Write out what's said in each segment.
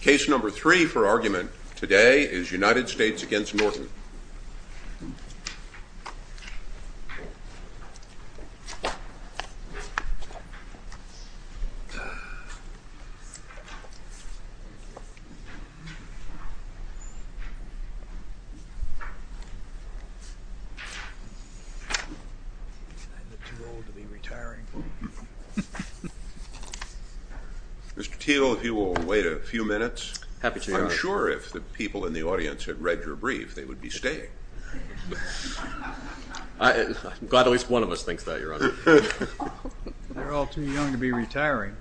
Case number three for argument today is United States v. Norton. Mr. Teel, if you will wait a few minutes. I'm sure if the people in the audience had read your brief they would be staying. I'm glad at least one of us thinks that, Your Honor. They're all too young to be retiring.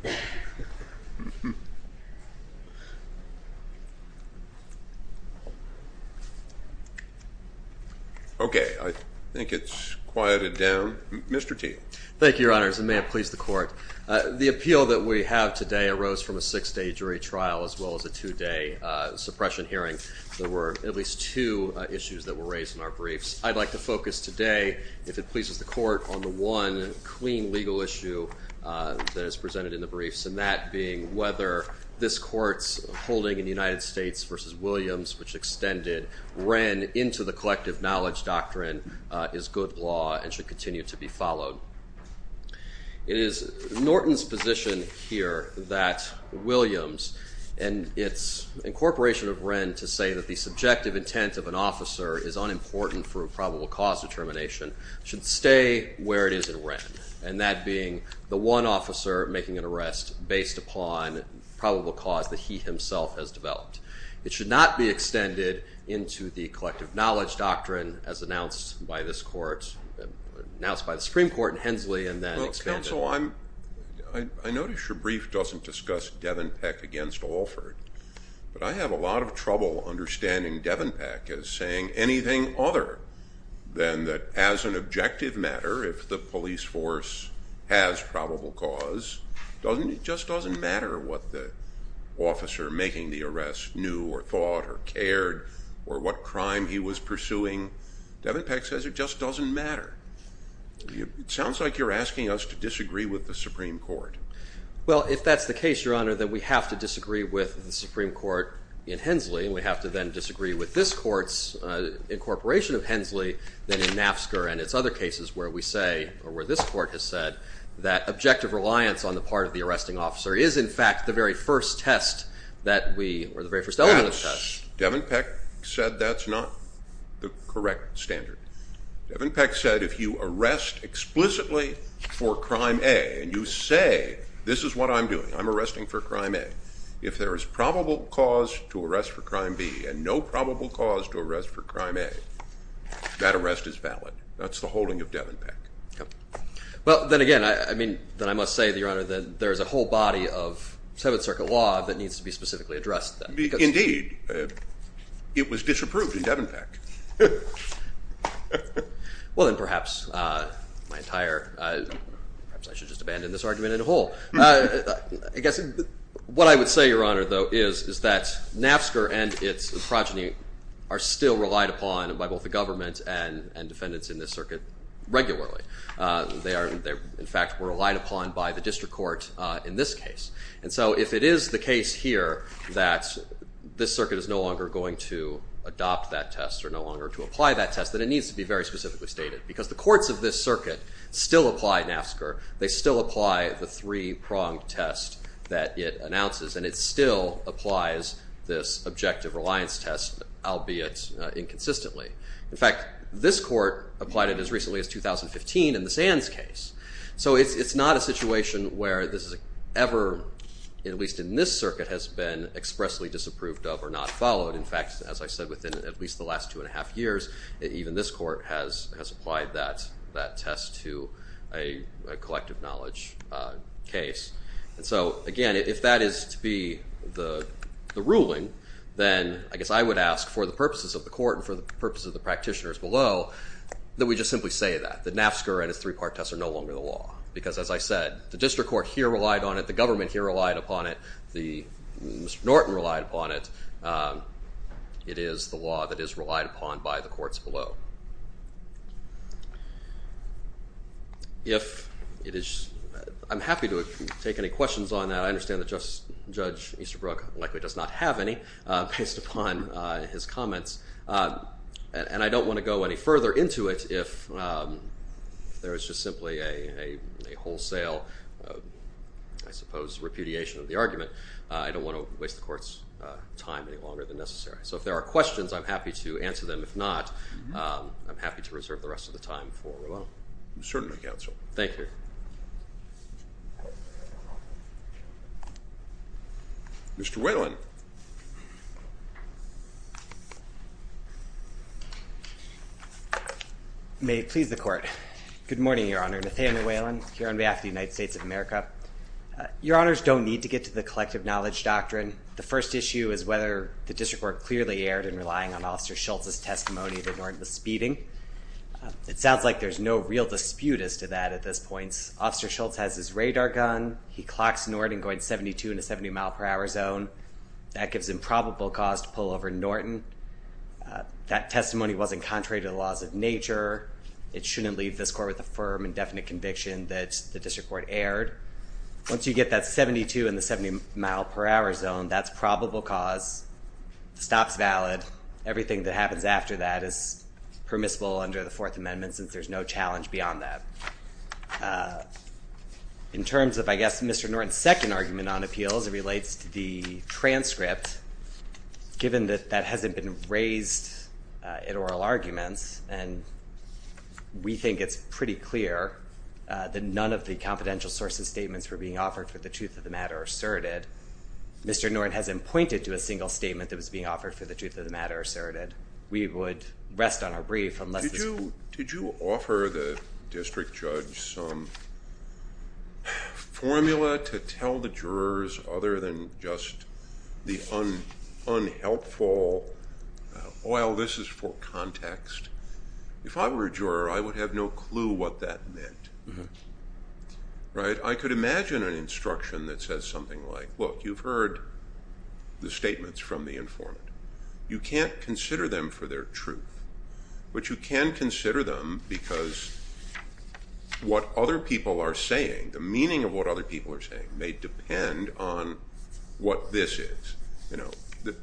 Okay, I think it's quieted down. Mr. Teel. Thank you, Your Honors, and may it please the Court. The appeal that we have today arose from a six-day jury trial as well as a two-day suppression hearing. There were at least two issues that were raised in our briefs. I'd like to focus today, if it pleases the Court, on the one clean legal issue that is presented in the briefs, and that being whether this Court's holding in the United States v. Williams, which extended Wren into the collective knowledge doctrine, is good law and should continue to be followed. It is Norton's position here that Williams and its incorporation of Wren to say that the subjective intent of an officer is unimportant for a probable cause determination should stay where it is in Wren, and that being the one officer making an arrest based upon probable cause that he himself has developed. It should not be extended into the collective knowledge doctrine as announced by this Court, announced by the Supreme Court in Hensley, and then expanded. Well, counsel, I notice your brief doesn't discuss Devenpeck against Alford, but I have a lot of trouble understanding Devenpeck as saying anything other than that as an objective matter, if the police force has probable cause. It just doesn't matter what the officer making the arrest knew or thought or cared, or what crime he was pursuing. Devenpeck says it just doesn't matter. It sounds like you're asking us to disagree with the Supreme Court. Well, if that's the case, Your Honor, then we have to disagree with the Supreme Court in Hensley, and we have to then disagree with this Court's incorporation of Hensley, then in NAFSCR and its other cases where we say, or where this Court has said, that objective reliance on the part of the arresting officer is, in fact, the very first test that we, or the very first element of the test. Devenpeck said that's not the correct standard. Devenpeck said if you arrest explicitly for crime A and you say, this is what I'm doing, I'm arresting for crime A, if there is probable cause to arrest for crime B and no probable cause to arrest for crime A, that arrest is valid. That's the holding of Devenpeck. Well, then again, I mean, then I must say, Your Honor, that there is a whole body of Seventh Circuit law that needs to be specifically addressed. It was disapproved in Devenpeck. Well, then perhaps my entire, perhaps I should just abandon this argument in a hole. I guess what I would say, Your Honor, though, is that NAFSCR and its progeny are still relied upon by both the government and defendants in this circuit regularly. They, in fact, were relied upon by the district court in this case. And so if it is the case here that this circuit is no longer going to adopt that test or no longer to apply that test, then it needs to be very specifically stated. Because the courts of this circuit still apply NAFSCR. They still apply the three-pronged test that it announces. And it still applies this objective reliance test, albeit inconsistently. In fact, this court applied it as recently as 2015 in the Sands case. So it's not a situation where this has ever, at least in this circuit, has been expressly disapproved of or not followed. In fact, as I said, within at least the last two and a half years, even this court has applied that test to a collective knowledge case. And so, again, if that is to be the ruling, then I guess I would ask for the purposes of the court and for the purposes of the practitioners below that we just simply say that, that NAFSCR and its three-pronged test are no longer the law. Because as I said, the district court here relied on it. The government here relied upon it. Mr. Norton relied upon it. It is the law that is relied upon by the courts below. I'm happy to take any questions on that. I understand that Justice Judge Easterbrook likely does not have any based upon his comments. And I don't want to go any further into it. If there is just simply a wholesale, I suppose, repudiation of the argument, I don't want to waste the court's time any longer than necessary. So if there are questions, I'm happy to answer them. If not, I'm happy to reserve the rest of the time for Rolando. Certainly, counsel. Thank you. Mr. Whalen. May it please the Court. Good morning, Your Honor. Nathaniel Whalen here on behalf of the United States of America. Your Honors don't need to get to the collective knowledge doctrine. The first issue is whether the district court clearly erred in relying on Officer Schultz's testimony that Norton was speeding. It sounds like there's no real dispute as to that at this point. Officer Schultz has his radar gun. He clocks Norton going 72 in a 70-mile-per-hour zone. That gives him probable cause to pull over Norton. That testimony wasn't contrary to the laws of nature. It shouldn't leave this court with a firm and definite conviction that the district court erred. Once you get that 72 in the 70-mile-per-hour zone, that's probable cause. The stop's valid. Everything that happens after that is permissible under the Fourth Amendment since there's no challenge beyond that. In terms of, I guess, Mr. Norton's second argument on appeals, it relates to the transcript. Given that that hasn't been raised in oral arguments, and we think it's pretty clear that none of the confidential sources statements were being offered for the truth of the matter asserted, Mr. Norton hasn't pointed to a single statement that was being offered for the truth of the matter asserted. We would rest on our brief unless this court- Unhelpful. Well, this is for context. If I were a juror, I would have no clue what that meant. Right? I could imagine an instruction that says something like, look, you've heard the statements from the informant. You can't consider them for their truth, but you can consider them because what other people are saying, the meaning of what other people are saying may depend on what this is. The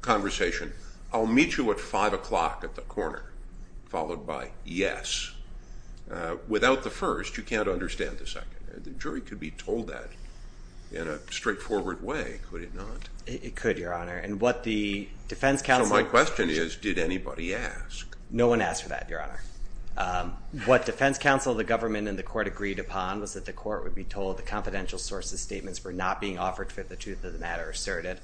conversation, I'll meet you at 5 o'clock at the corner, followed by yes. Without the first, you can't understand the second. The jury could be told that in a straightforward way, could it not? It could, Your Honor. And what the defense counsel- So my question is, did anybody ask? No one asked for that, Your Honor. What defense counsel, the government, and the court agreed upon was that the court would be told the confidential sources statements were not being offered for the truth of the matter asserted.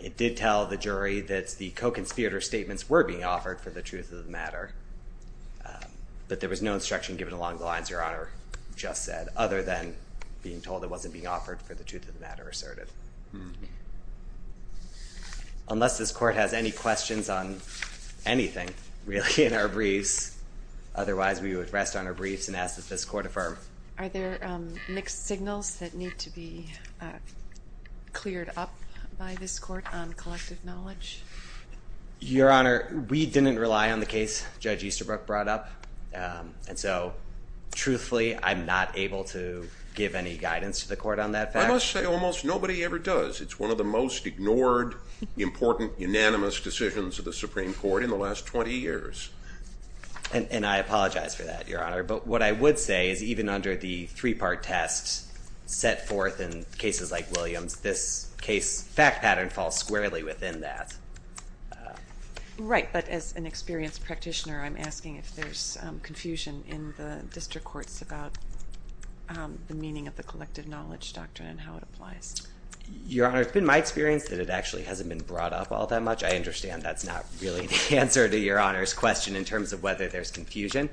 It did tell the jury that the co-conspirator statements were being offered for the truth of the matter, but there was no instruction given along the lines Your Honor just said, other than being told it wasn't being offered for the truth of the matter asserted. Unless this court has any questions on anything really in our briefs, otherwise we would rest on our briefs and ask that this court affirm. Are there mixed signals that need to be cleared up by this court on collective knowledge? Your Honor, we didn't rely on the case Judge Easterbrook brought up, and so truthfully, I'm not able to give any guidance to the court on that fact. I must say, almost nobody ever does. It's one of the most ignored, important, unanimous decisions of the Supreme Court in the last 20 years. And I apologize for that, Your Honor. But what I would say is even under the three-part test set forth in cases like Williams, this case fact pattern falls squarely within that. Right, but as an experienced practitioner, I'm asking if there's confusion in the district courts about the meaning of the collective knowledge doctrine and how it applies. Your Honor, it's been my experience that it actually hasn't been brought up all that much. I understand that's not really the answer to Your Honor's question in terms of whether there's confusion.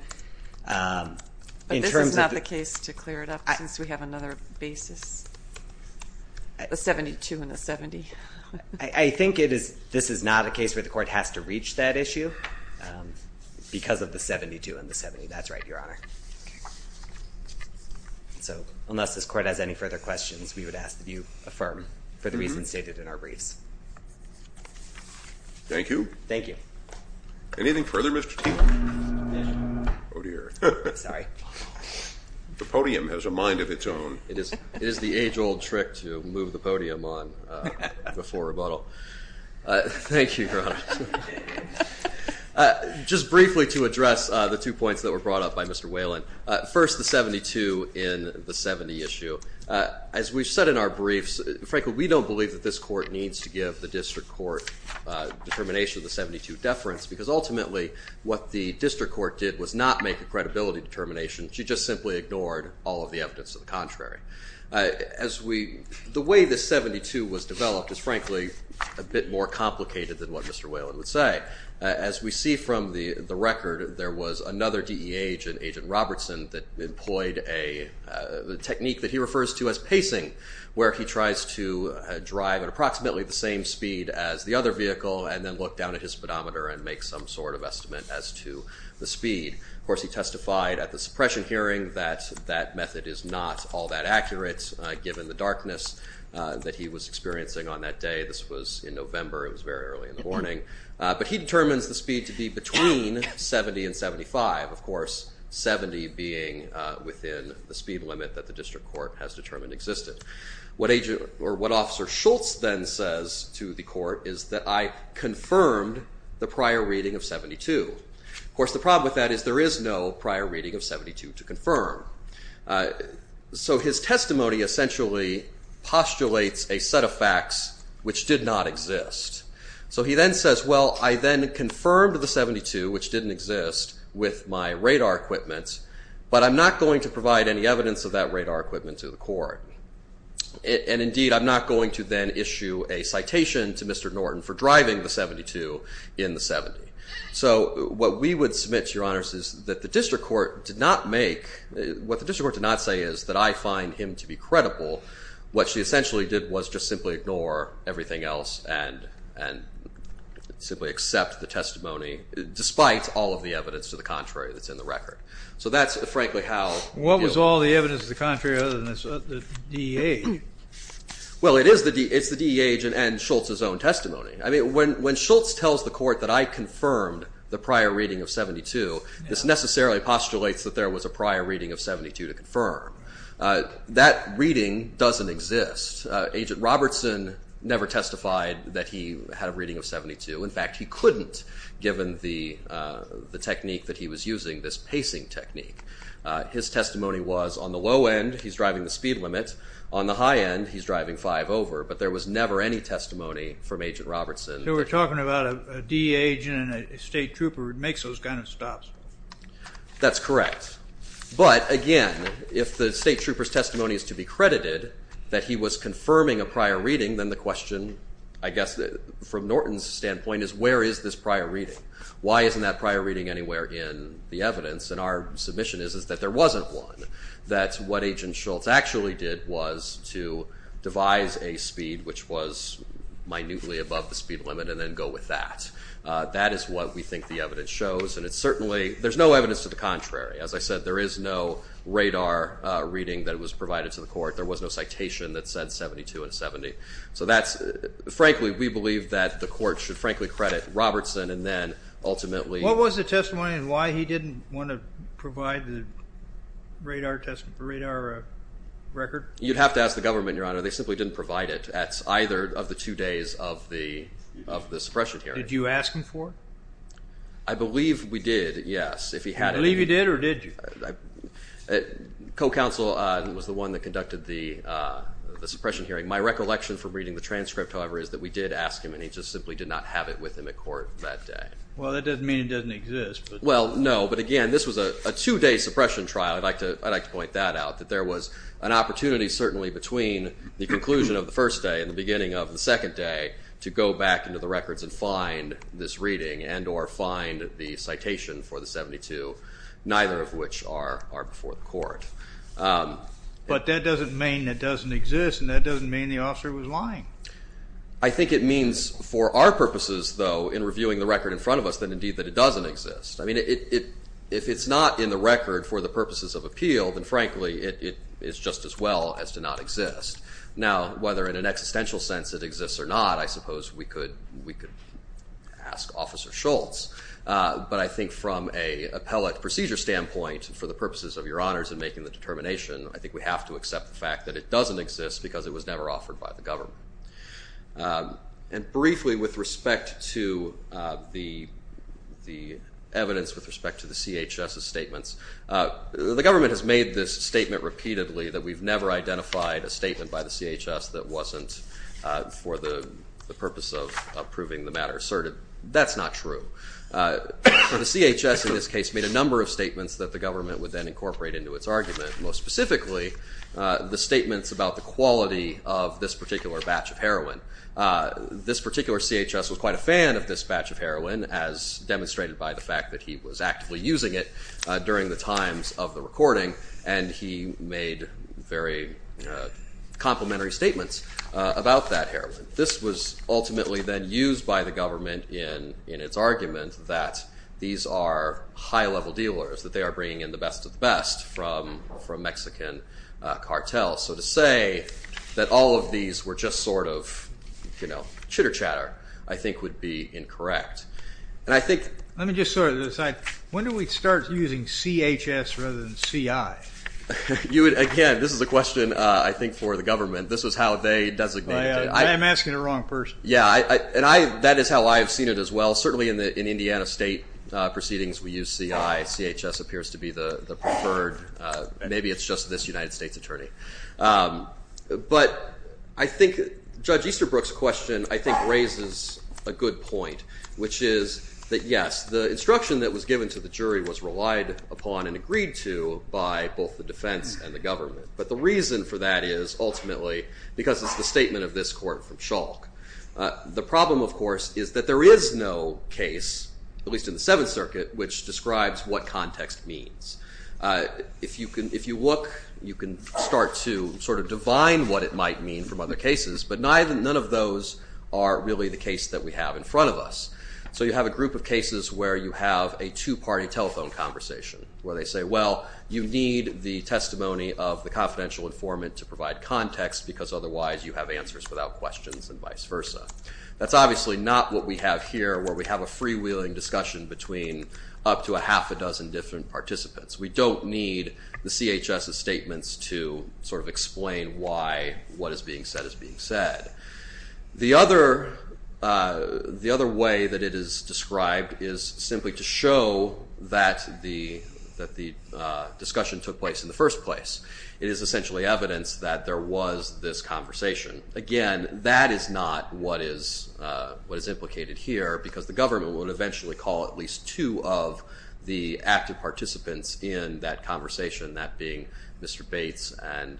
But this is not the case to clear it up since we have another basis, the 72 and the 70? I think this is not a case where the court has to reach that issue because of the 72 and the 70. That's right, Your Honor. So unless this court has any further questions, we would ask that you affirm for the reasons stated in our briefs. Thank you. Thank you. Anything further, Mr. Teague? Oh, dear. Sorry. The podium has a mind of its own. It is the age-old trick to move the podium on before rebuttal. Thank you, Your Honor. Just briefly to address the two points that were brought up by Mr. Whelan, first the 72 in the 70 issue. As we've said in our briefs, frankly, we don't believe that this court needs to give the district court determination of the 72 deference because ultimately what the district court did was not make a credibility determination. She just simply ignored all of the evidence to the contrary. The way the 72 was developed is frankly a bit more complicated than what Mr. Whelan would say. As we see from the record, there was another DEH, an agent Robertson, that employed a technique that he refers to as pacing where he tries to drive at approximately the same speed as the other vehicle and then look down at his speedometer and make some sort of estimate as to the speed. Of course, he testified at the suppression hearing that that method is not all that accurate, given the darkness that he was experiencing on that day. This was in November. It was very early in the morning. But he determines the speed to be between 70 and 75, of course, 70 being within the speed limit that the district court has determined existed. What Officer Schultz then says to the court is that I confirmed the prior reading of 72. Of course, the problem with that is there is no prior reading of 72 to confirm. So his testimony essentially postulates a set of facts which did not exist. So he then says, well, I then confirmed the 72, which didn't exist, with my radar equipment, but I'm not going to provide any evidence of that radar equipment to the court. And indeed, I'm not going to then issue a citation to Mr. Norton for driving the 72 in the 70. So what we would submit to your honors is that the district court did not make, what the district court did not say is that I find him to be credible. What she essentially did was just simply ignore everything else and simply accept the testimony despite all of the evidence to the contrary that's in the record. So that's, frankly, how you'll- What was all the evidence to the contrary other than the DEH? Well, it's the DEH and Schultz's own testimony. I mean, when Schultz tells the court that I confirmed the prior reading of 72, this necessarily postulates that there was a prior reading of 72 to confirm. That reading doesn't exist. Agent Robertson never testified that he had a reading of 72. In fact, he couldn't given the technique that he was using, this pacing technique. His testimony was on the low end, he's driving the speed limit. On the high end, he's driving five over. But there was never any testimony from Agent Robertson. So we're talking about a DEA agent and a state trooper who makes those kind of stops. That's correct. But, again, if the state trooper's testimony is to be credited that he was confirming a prior reading, then the question, I guess, from Norton's standpoint is where is this prior reading? Why isn't that prior reading anywhere in the evidence? And our submission is that there wasn't one, that what Agent Schultz actually did was to devise a speed which was minutely above the speed limit and then go with that. That is what we think the evidence shows. And it's certainly, there's no evidence to the contrary. As I said, there is no radar reading that was provided to the court. There was no citation that said 72 and 70. So that's, frankly, we believe that the court should frankly credit Robertson and then ultimately... What was the testimony and why he didn't want to provide the radar record? You'd have to ask the government, Your Honor. They simply didn't provide it at either of the two days of the suppression hearing. Did you ask him for it? I believe we did, yes. You believe you did or did you? Co-counsel was the one that conducted the suppression hearing. My recollection from reading the transcript, however, is that we did ask him and he just simply did not have it with him at court that day. Well, that doesn't mean it doesn't exist. Well, no, but again, this was a two-day suppression trial. I'd like to point that out, that there was an opportunity, certainly, between the conclusion of the first day and the beginning of the second day to go back into the records and find this reading and or find the citation for the 72, neither of which are before the court. But that doesn't mean it doesn't exist and that doesn't mean the officer was lying. I think it means for our purposes, though, in reviewing the record in front of us, that indeed it doesn't exist. I mean, if it's not in the record for the purposes of appeal, then frankly it's just as well as to not exist. Now, whether in an existential sense it exists or not, I suppose we could ask Officer Schultz. But I think from an appellate procedure standpoint, for the purposes of your honors in making the determination, I think we have to accept the fact that it doesn't exist because it was never offered by the government. And briefly with respect to the evidence with respect to the CHS's statements, the government has made this statement repeatedly that we've never identified a statement by the CHS that wasn't for the purpose of proving the matter asserted. That's not true. The CHS in this case made a number of statements that the government would then incorporate into its argument, most specifically the statements about the quality of this particular batch of heroin. This particular CHS was quite a fan of this batch of heroin, as demonstrated by the fact that he was actively using it during the times of the recording, and he made very complimentary statements about that heroin. This was ultimately then used by the government in its argument that these are high-level dealers, that they are bringing in the best of the best from Mexican cartels. So to say that all of these were just sort of chitter-chatter I think would be incorrect. Let me just sort of decide, when do we start using CHS rather than CI? Again, this is a question I think for the government. This was how they designated it. I am asking the wrong person. Yeah, and that is how I have seen it as well. Certainly in Indiana state proceedings we use CI. CHS appears to be the preferred. Maybe it's just this United States attorney. But I think Judge Easterbrook's question I think raises a good point, which is that, yes, the instruction that was given to the jury was relied upon and agreed to by both the defense and the government. But the reason for that is ultimately because it's the statement of this court from Schalk. The problem, of course, is that there is no case, at least in the Seventh Circuit, which describes what context means. If you look, you can start to sort of divine what it might mean from other cases, but none of those are really the case that we have in front of us. So you have a group of cases where you have a two-party telephone conversation, where they say, well, you need the testimony of the confidential informant to provide context because otherwise you have answers without questions and vice versa. That's obviously not what we have here, where we have a freewheeling discussion between up to a half a dozen different participants. We don't need the CHS's statements to sort of explain why what is being said is being said. The other way that it is described is simply to show that the discussion took place in the first place. It is essentially evidence that there was this conversation. Again, that is not what is implicated here because the government would eventually call at least two of the active participants in that conversation, that being Mr. Bates and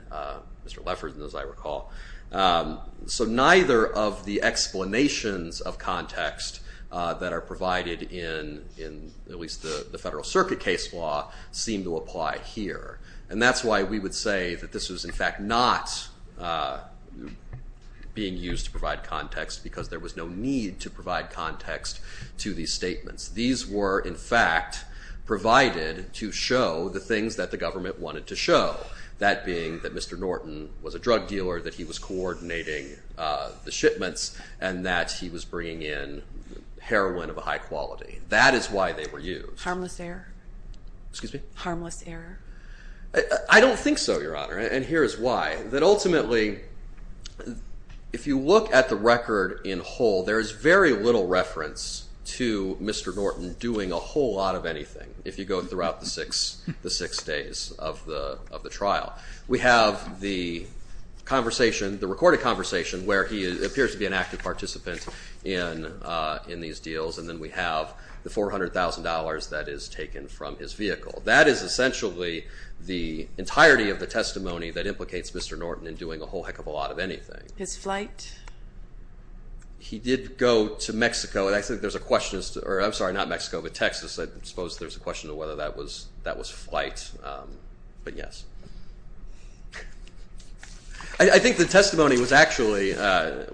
Mr. Lefferts, as I recall. So neither of the explanations of context that are provided in at least the Federal Circuit case law seem to apply here. And that's why we would say that this is, in fact, not being used to provide context because there was no need to provide context to these statements. These were, in fact, provided to show the things that the government wanted to show, that being that Mr. Norton was a drug dealer, that he was coordinating the shipments, and that he was bringing in heroin of a high quality. That is why they were used. Harmless error? Excuse me? Harmless error? I don't think so, Your Honor, and here is why. That ultimately, if you look at the record in whole, there is very little reference to Mr. Norton doing a whole lot of anything, if you go throughout the six days of the trial. We have the conversation, the recorded conversation, where he appears to be an active participant in these deals, and then we have the $400,000 that is taken from his vehicle. That is essentially the entirety of the testimony that implicates Mr. Norton in doing a whole heck of a lot of anything. His flight? He did go to Mexico. I'm sorry, not Mexico, but Texas. I suppose there's a question of whether that was flight, but yes. I think the testimony was actually, I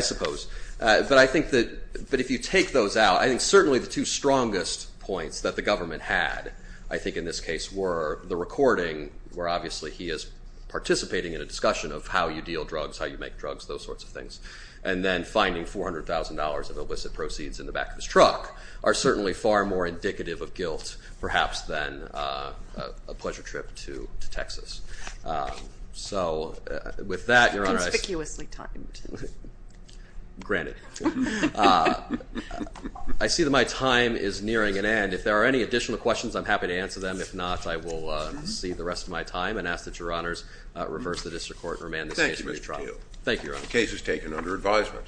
suppose, but I think that if you take those out, I think certainly the two strongest points that the government had, I think in this case, were the recording, where obviously he is participating in a discussion of how you deal drugs, how you make drugs, those sorts of things, and then finding $400,000 of illicit proceeds in the back of his truck are certainly far more indicative of guilt, perhaps, than a pleasure trip to Texas. So with that, Your Honor, I see that my time is nearing an end. If there are any additional questions, I'm happy to answer them. If not, I will cede the rest of my time and ask that Your Honors reverse the district court and remand this case for retrial. Thank you, Mr. Teel. Thank you, Your Honor. The case is taken under advisement.